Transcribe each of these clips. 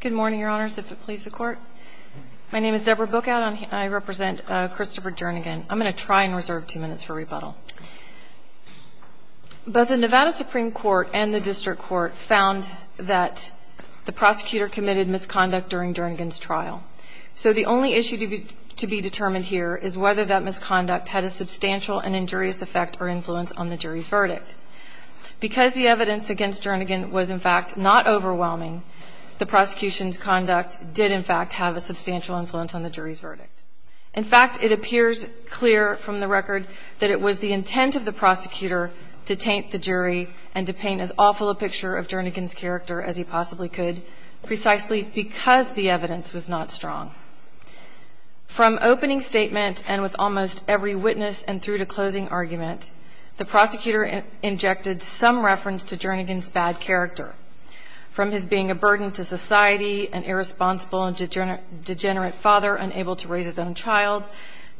Good morning, Your Honors, if it pleases the Court. My name is Deborah Bookout. I represent Christopher Jernigan. I'm going to try and reserve two minutes for rebuttal. Both the Nevada Supreme Court and the District Court found that the prosecutor committed misconduct during Jernigan's trial. So the only issue to be determined here is whether that misconduct had a substantial and injurious effect or influence on the jury's verdict. Because the evidence against Jernigan was, in fact, not overwhelming, the prosecution's conduct did, in fact, have a substantial influence on the jury's verdict. In fact, it appears clear from the record that it was the intent of the prosecutor to taint the jury and to paint as awful a picture of Jernigan's character as he possibly could precisely because the evidence was not strong. From opening statement and with almost every witness and through to closing argument, the prosecutor injected some reference to Jernigan's bad character, from his being a burden to society, an irresponsible and degenerate father unable to raise his own child,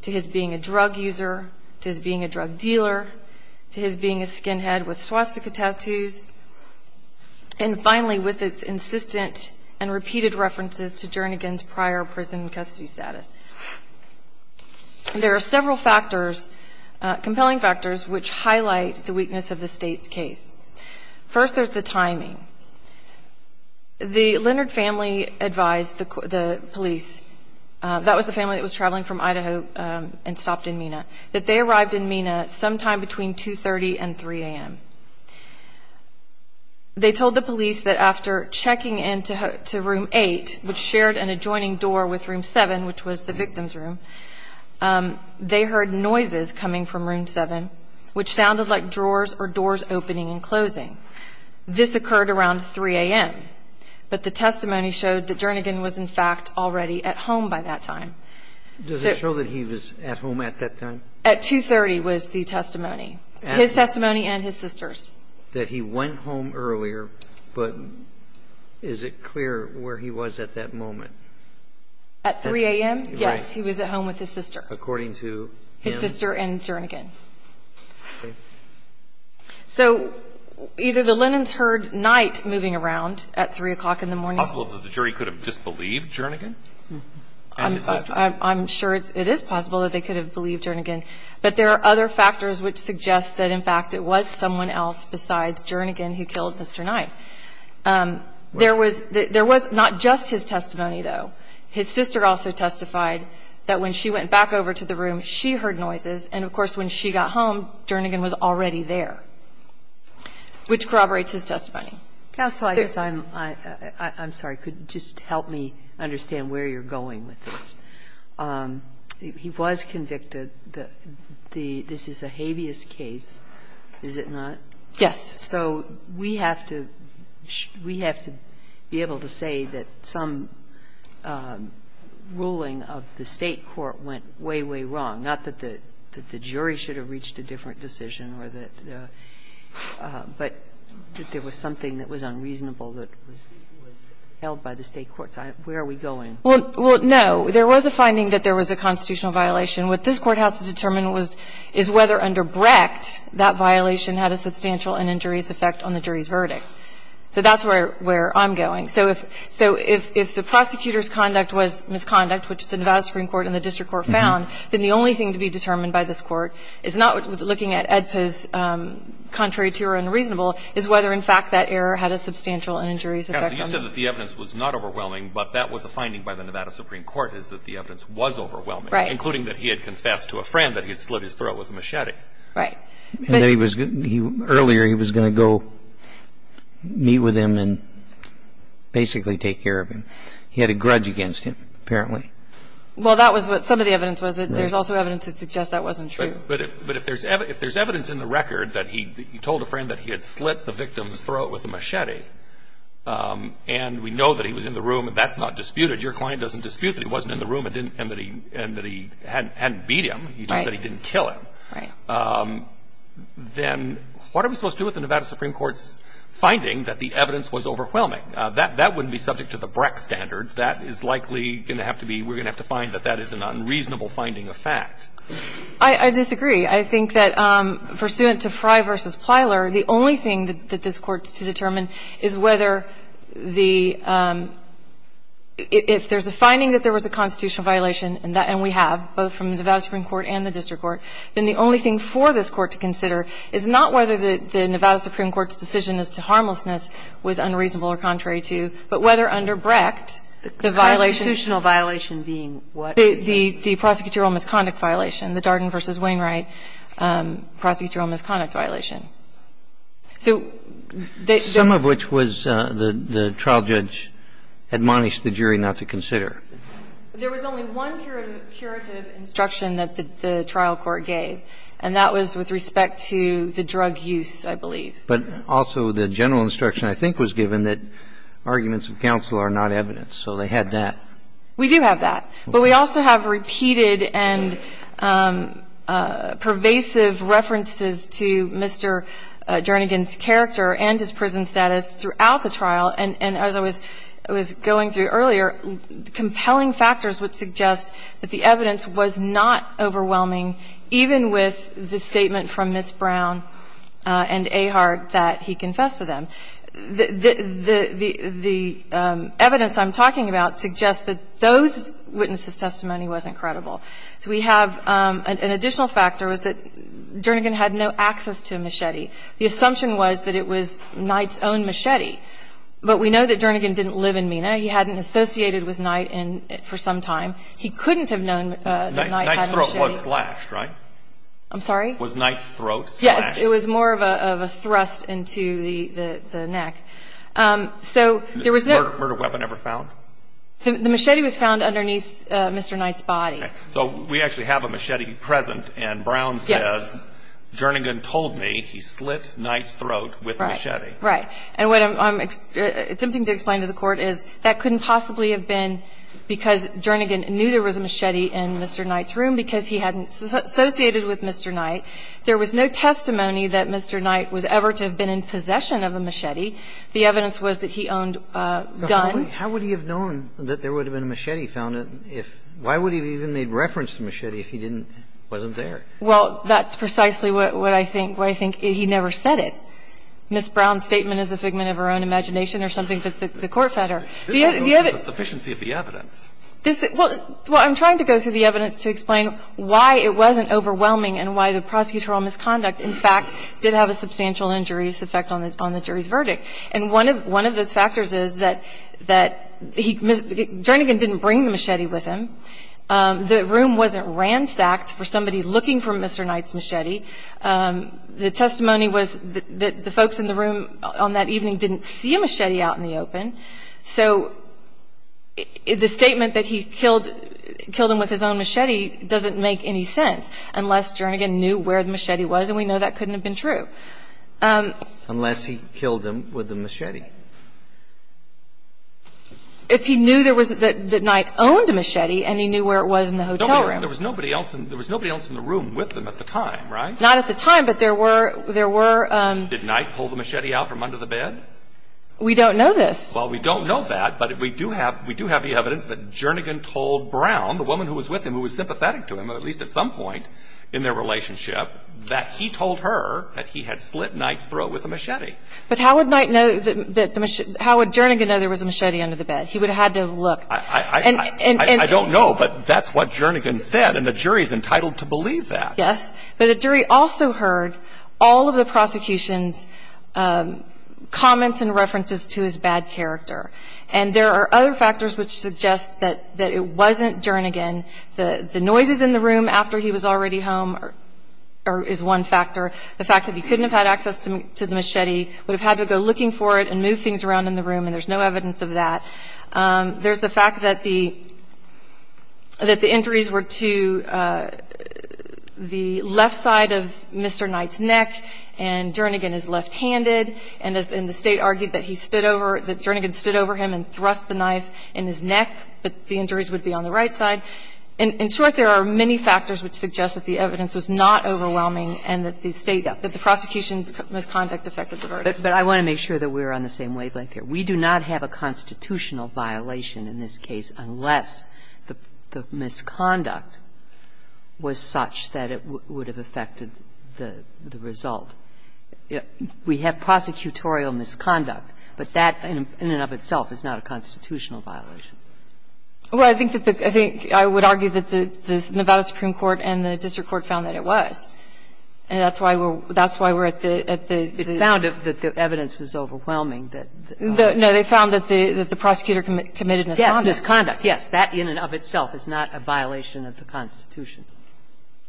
to his being a drug user, to his being a drug dealer, to his being a skinhead with swastika tattoos, and finally, with its insistent and repeated references to Jernigan's prior prison and custody status. There are several factors, compelling factors, which highlight the weakness of the State's case. First, there's the timing. The Leonard family advised the police, that was the family that was traveling from Idaho and stopped in Mena, that they arrived in Mena sometime between 2.30 and 3 a.m. They told the police that after checking into room 8, which shared an adjoining door with room 7, which was the victim's room, they heard noises coming from room 7, which sounded like drawers or doors opening and closing. This occurred around 3 a.m., but the testimony showed that Jernigan was, in fact, already at home by that time. Does it show that he was at home at that time? At 2.30 was the testimony. His testimony and his sister's. That he went home earlier, but is it clear where he was at that moment? At 3 a.m.? Right. Yes, he was at home with his sister. According to him? His sister and Jernigan. Okay. So either the Lennons heard night moving around at 3 o'clock in the morning. Is it possible that the jury could have disbelieved Jernigan? I'm sure it is possible that they could have believed Jernigan. But there are other factors which suggest that, in fact, it was someone else besides Jernigan who killed Mr. Knight. There was not just his testimony, though. His sister also testified that when she went back over to the room, she heard noises. And, of course, when she got home, Jernigan was already there, which corroborates his testimony. Counsel, I guess I'm sorry. Could you just help me understand where you're going with this? He was convicted. This is a habeas case, is it not? Yes. So we have to be able to say that some ruling of the State court went way, way wrong, not that the jury should have reached a different decision or that there was something that was unreasonable that was held by the State courts. Where are we going? Well, no. There was a finding that there was a constitutional violation. What this Court has to determine is whether under Brecht that violation had a substantial and injurious effect on the jury's verdict. So that's where I'm going. to determine, and there was anything to be determined by this Court, is not looking at AEDPA's contrary to your unreasonable, is whether, in fact, that error had a substantial and injurious effect on the jury. Counsel, you said that the evidence was not overwhelming, but that was a finding by the Nevada Supreme Court is that the evidence was overwhelming. Right. Including that he had confessed to a friend that he had slid his throat with a machete. Right. Earlier he was going to go meet with him and basically take care of him. He had a grudge against him, apparently. Well, that was what some of the evidence was. There's also evidence that suggests that wasn't true. But if there's evidence in the record that he told a friend that he had slit the victim's throat with a machete and we know that he was in the room and that's not disputed, your client doesn't dispute that he wasn't in the room and that he hadn't beat him. Right. He just said he didn't kill him. Right. Then what are we supposed to do with the Nevada Supreme Court's finding that the evidence was overwhelming? That wouldn't be subject to the Brecht standard. That is likely going to have to be we're going to have to find that that is an unreasonable finding of fact. I disagree. I think that pursuant to Fry v. Plyler, the only thing that this Court is to determine is whether the – if there's a finding that there was a constitutional violation and we have, both from the Nevada Supreme Court and the district court, then the only thing for this Court to consider is not whether the Nevada Supreme Court's decision as to harmlessness was unreasonable or contrary to, but whether under Brecht the violation – The constitutional violation being what? The prosecutorial misconduct violation. The Darden v. Wainwright prosecutorial misconduct violation. So the – Some of which was the trial judge admonished the jury not to consider. There was only one curative instruction that the trial court gave, and that was with respect to the drug use, I believe. But also the general instruction, I think, was given that arguments of counsel are not evidence. So they had that. We do have that. But we also have repeated and pervasive references to Mr. Jernigan's character and his prison status throughout the trial, and as I was going through earlier, compelling factors would suggest that the evidence was not overwhelming, even with the statement from Ms. Brown and Ahart that he confessed to them. The evidence I'm talking about suggests that those witnesses' testimony wasn't credible. So we have an additional factor was that Jernigan had no access to a machete. The assumption was that it was Knight's own machete. But we know that Jernigan didn't live in MENA. He hadn't associated with Knight for some time. He couldn't have known that Knight had a machete. Knight's throat was slashed, right? I'm sorry? Was Knight's throat slashed? Yes. It was more of a thrust into the neck. So there was no ---- Murder weapon ever found? The machete was found underneath Mr. Knight's body. So we actually have a machete present, and Brown says, Yes. Jernigan told me he slit Knight's throat with the machete. Right. And what I'm attempting to explain to the Court is that couldn't possibly have been because Jernigan knew there was a machete in Mr. Knight's room because he hadn't associated with Mr. Knight. There was no testimony that Mr. Knight was ever to have been in possession of a machete. The evidence was that he owned a gun. How would he have known that there would have been a machete found if ---- why would he have even made reference to machete if he didn't ---- wasn't there? Well, that's precisely what I think. I think he never said it. Ms. Brown's statement is a figment of her own imagination or something that the Court fed her. The evidence ---- This is the sufficiency of the evidence. This ---- well, I'm trying to go through the evidence to explain why it wasn't overwhelming and why the prosecutorial misconduct, in fact, did have a substantial injurious effect on the jury's verdict. And one of those factors is that he ---- Jernigan didn't bring the machete with him. The room wasn't ransacked for somebody looking for Mr. Knight's machete. The testimony was that the folks in the room on that evening didn't see a machete out in the open. So the statement that he killed ---- killed him with his own machete doesn't make any sense unless Jernigan knew where the machete was, and we know that couldn't have been true. Unless he killed him with a machete. If he knew there was ---- that Knight owned a machete and he knew where it was in the hotel room. And there was nobody else in the room with him at the time, right? Not at the time, but there were ---- there were ---- Did Knight pull the machete out from under the bed? We don't know this. Well, we don't know that, but we do have the evidence that Jernigan told Brown, the woman who was with him who was sympathetic to him, at least at some point in their relationship, that he told her that he had slit Knight's throat with a machete. But how would Knight know that the machete ---- how would Jernigan know there was a machete under the bed? He would have had to have looked. I don't know, but that's what Jernigan said, and the jury is entitled to believe that. Yes. But the jury also heard all of the prosecution's comments and references to his bad character. And there are other factors which suggest that it wasn't Jernigan. The noises in the room after he was already home is one factor. The fact that he couldn't have had access to the machete, would have had to go looking for it and move things around in the room, and there's no evidence of that. There's the fact that the ---- that the injuries were to the left side of Mr. Knight's neck, and Jernigan is left-handed, and the State argued that he stood over ---- that Jernigan stood over him and thrust the knife in his neck, but the injuries would be on the right side. In short, there are many factors which suggest that the evidence was not overwhelming and that the State ---- Yeah. That the prosecution's misconduct affected the verdict. But I want to make sure that we're on the same wavelength here. We do not have a constitutional violation in this case unless the misconduct was such that it would have affected the result. We have prosecutorial misconduct, but that in and of itself is not a constitutional violation. Well, I think that the ---- I think I would argue that the Nevada Supreme Court and the district court found that it was. And that's why we're at the ---- It found that the evidence was overwhelming. No. They found that the prosecutor committed misconduct. Yes. That in and of itself is not a violation of the Constitution.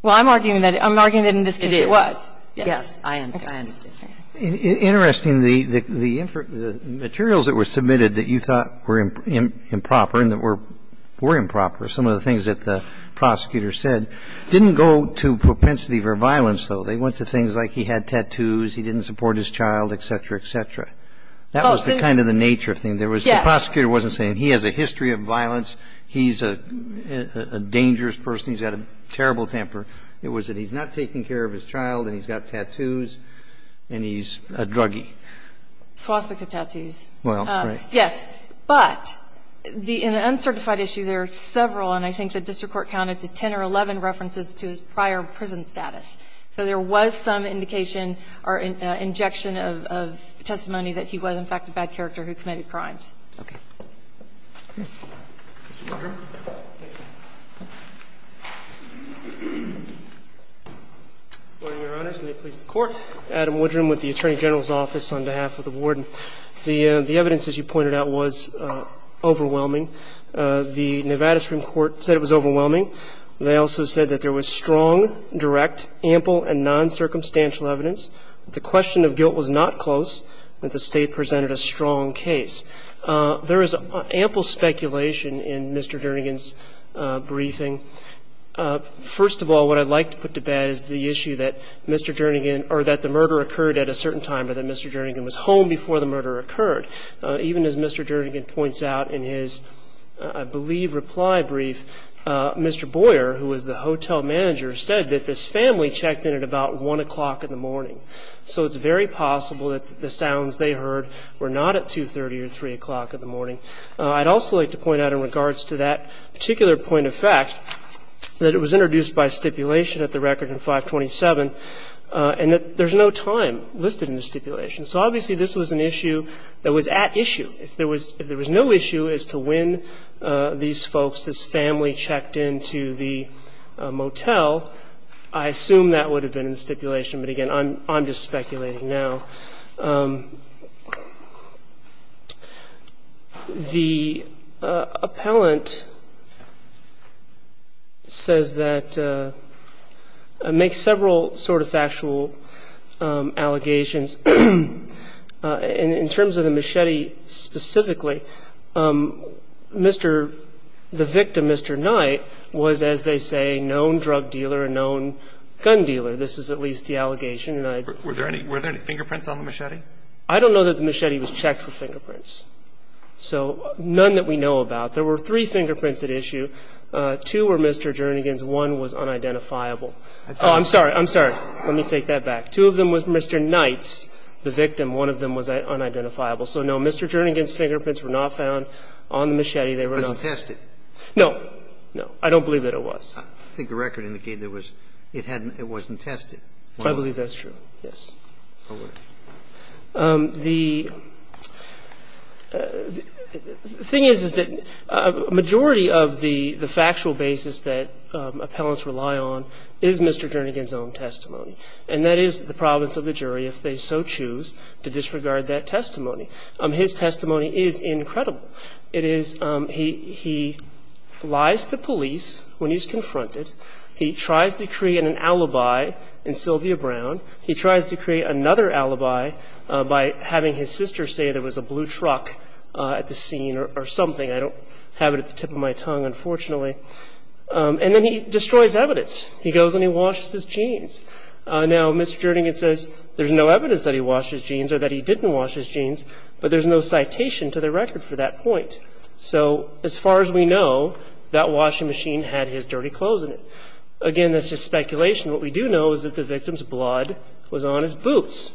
Well, I'm arguing that in this case it was. Yes. I understand. Interesting, the materials that were submitted that you thought were improper and that were improper, some of the things that the prosecutor said, didn't go to propensity for violence, though. They went to things like he had tattoos, he didn't support his child, et cetera, et cetera. That was the kind of the nature of things. Yes. The prosecutor wasn't saying he has a history of violence, he's a dangerous person, he's got a terrible temper. It was that he's not taking care of his child and he's got tattoos and he's a druggie. Swastika tattoos. Well, right. Yes. But the uncertified issue, there are several, and I think the district court counted to 10 or 11 references to his prior prison status. So there was some indication or injection of testimony that he was, in fact, a bad character who committed crimes. Okay. Mr. Woodrum. Good morning, Your Honors. May it please the Court. Adam Woodrum with the Attorney General's Office on behalf of the Board. The evidence, as you pointed out, was overwhelming. The Nevada Supreme Court said it was overwhelming. They also said that there was strong, direct, ample, and non-circumstantial evidence. The question of guilt was not close, but the State presented a strong case. There is ample speculation in Mr. Jernigan's briefing. First of all, what I'd like to put to bed is the issue that Mr. Jernigan or that the murder occurred at a certain time or that Mr. Jernigan was home before the murder occurred. Even as Mr. Jernigan points out in his, I believe, reply brief, Mr. Boyer, who was the hotel manager, said that this family checked in at about 1 o'clock in the morning. So it's very possible that the sounds they heard were not at 2.30 or 3 o'clock in the morning. I'd also like to point out in regards to that particular point of fact that it was introduced by stipulation at the record in 527 and that there's no time listed in the stipulation. So obviously, this was an issue that was at issue. If there was no issue as to when these folks, this family, checked into the motel, I assume that would have been in the stipulation. But again, I'm just speculating now. The appellant says that, makes several sort of factual allegations. In terms of the machete specifically, Mr. ---- the victim, Mr. Knight, was, as they say, a known drug dealer, a known gun dealer. This is at least the allegation. And I'd ---- Were there any fingerprints on the machete? I don't know that the machete was checked for fingerprints. So none that we know about. There were three fingerprints at issue. Two were Mr. Jernigan's. One was unidentifiable. Oh, I'm sorry. I'm sorry. Let me take that back. Two of them was Mr. Knight's, the victim. One of them was unidentifiable. So, no, Mr. Jernigan's fingerprints were not found on the machete. They were not tested. No. No. I don't believe that it was. I think the record indicated there was ---- it wasn't tested. I believe that's true, yes. The thing is, is that a majority of the factual basis that appellants rely on is Mr. Jernigan's own testimony. And that is the province of the jury, if they so choose, to disregard that testimony. His testimony is incredible. It is he lies to police when he's confronted. He tries to create an alibi in Sylvia Brown. He tries to create another alibi by having his sister say there was a blue truck at the scene or something. I don't have it at the tip of my tongue, unfortunately. And then he destroys evidence. He goes and he washes his jeans. Now, Mr. Jernigan says there's no evidence that he washed his jeans or that he didn't wash his jeans, but there's no citation to the record for that point. So as far as we know, that washing machine had his dirty clothes in it. Again, this is speculation. What we do know is that the victim's blood was on his boots.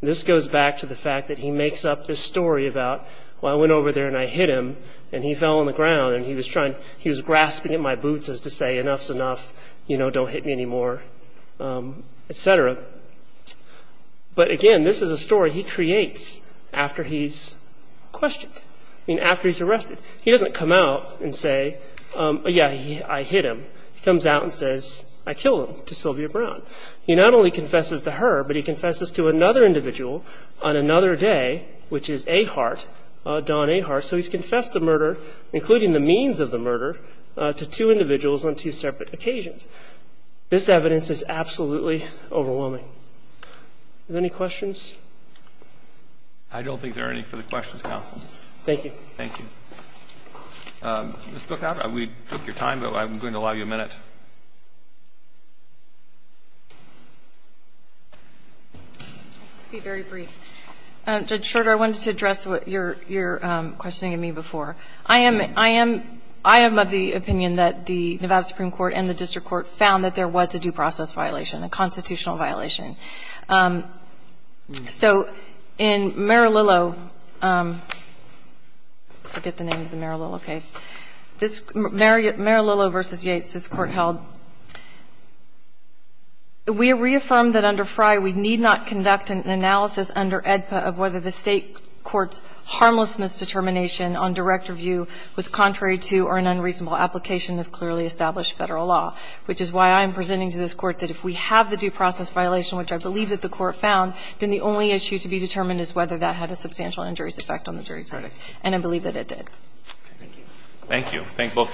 This goes back to the fact that he makes up this story about, well, I went over there and I hit him, and he fell on the ground, and he was trying to ---- he was grasping at my boots as to say, enough's enough, don't hit me anymore, et cetera. But again, this is a story he creates after he's questioned, after he's arrested. He doesn't come out and say, yeah, I hit him. He comes out and says, I killed him, to Sylvia Brown. He not only confesses to her, but he confesses to another individual on another day, which is Ahart, Don Ahart. So he's confessed the murder, including the means of the murder, to two individuals on two separate occasions. This evidence is absolutely overwhelming. Are there any questions? I don't think there are any for the questions, counsel. Thank you. Thank you. Ms. Bookhofer, we took your time, but I'm going to allow you a minute. Just to be very brief. Judge Schroeder, I wanted to address your questioning of me before. I am of the opinion that the Nevada Supreme Court and the district court found that there was a due process violation, a constitutional violation. So in Maralillo ---- I forget the name of the Maralillo case. Maralillo v. Yates, this Court held, we reaffirmed that under Frye we need not conduct an analysis under AEDPA of whether the State court's harmlessness determination on direct review was contrary to or an unreasonable application of clearly established Federal law, which is why I am presenting to this Court that if we have the due process violation, which I believe that the Court found, then the only issue to be determined is whether that had a substantial injuries effect on the jury's verdict. Thank you. Thank you.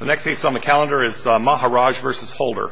The next case on the calendar is Maharaj v. Holder.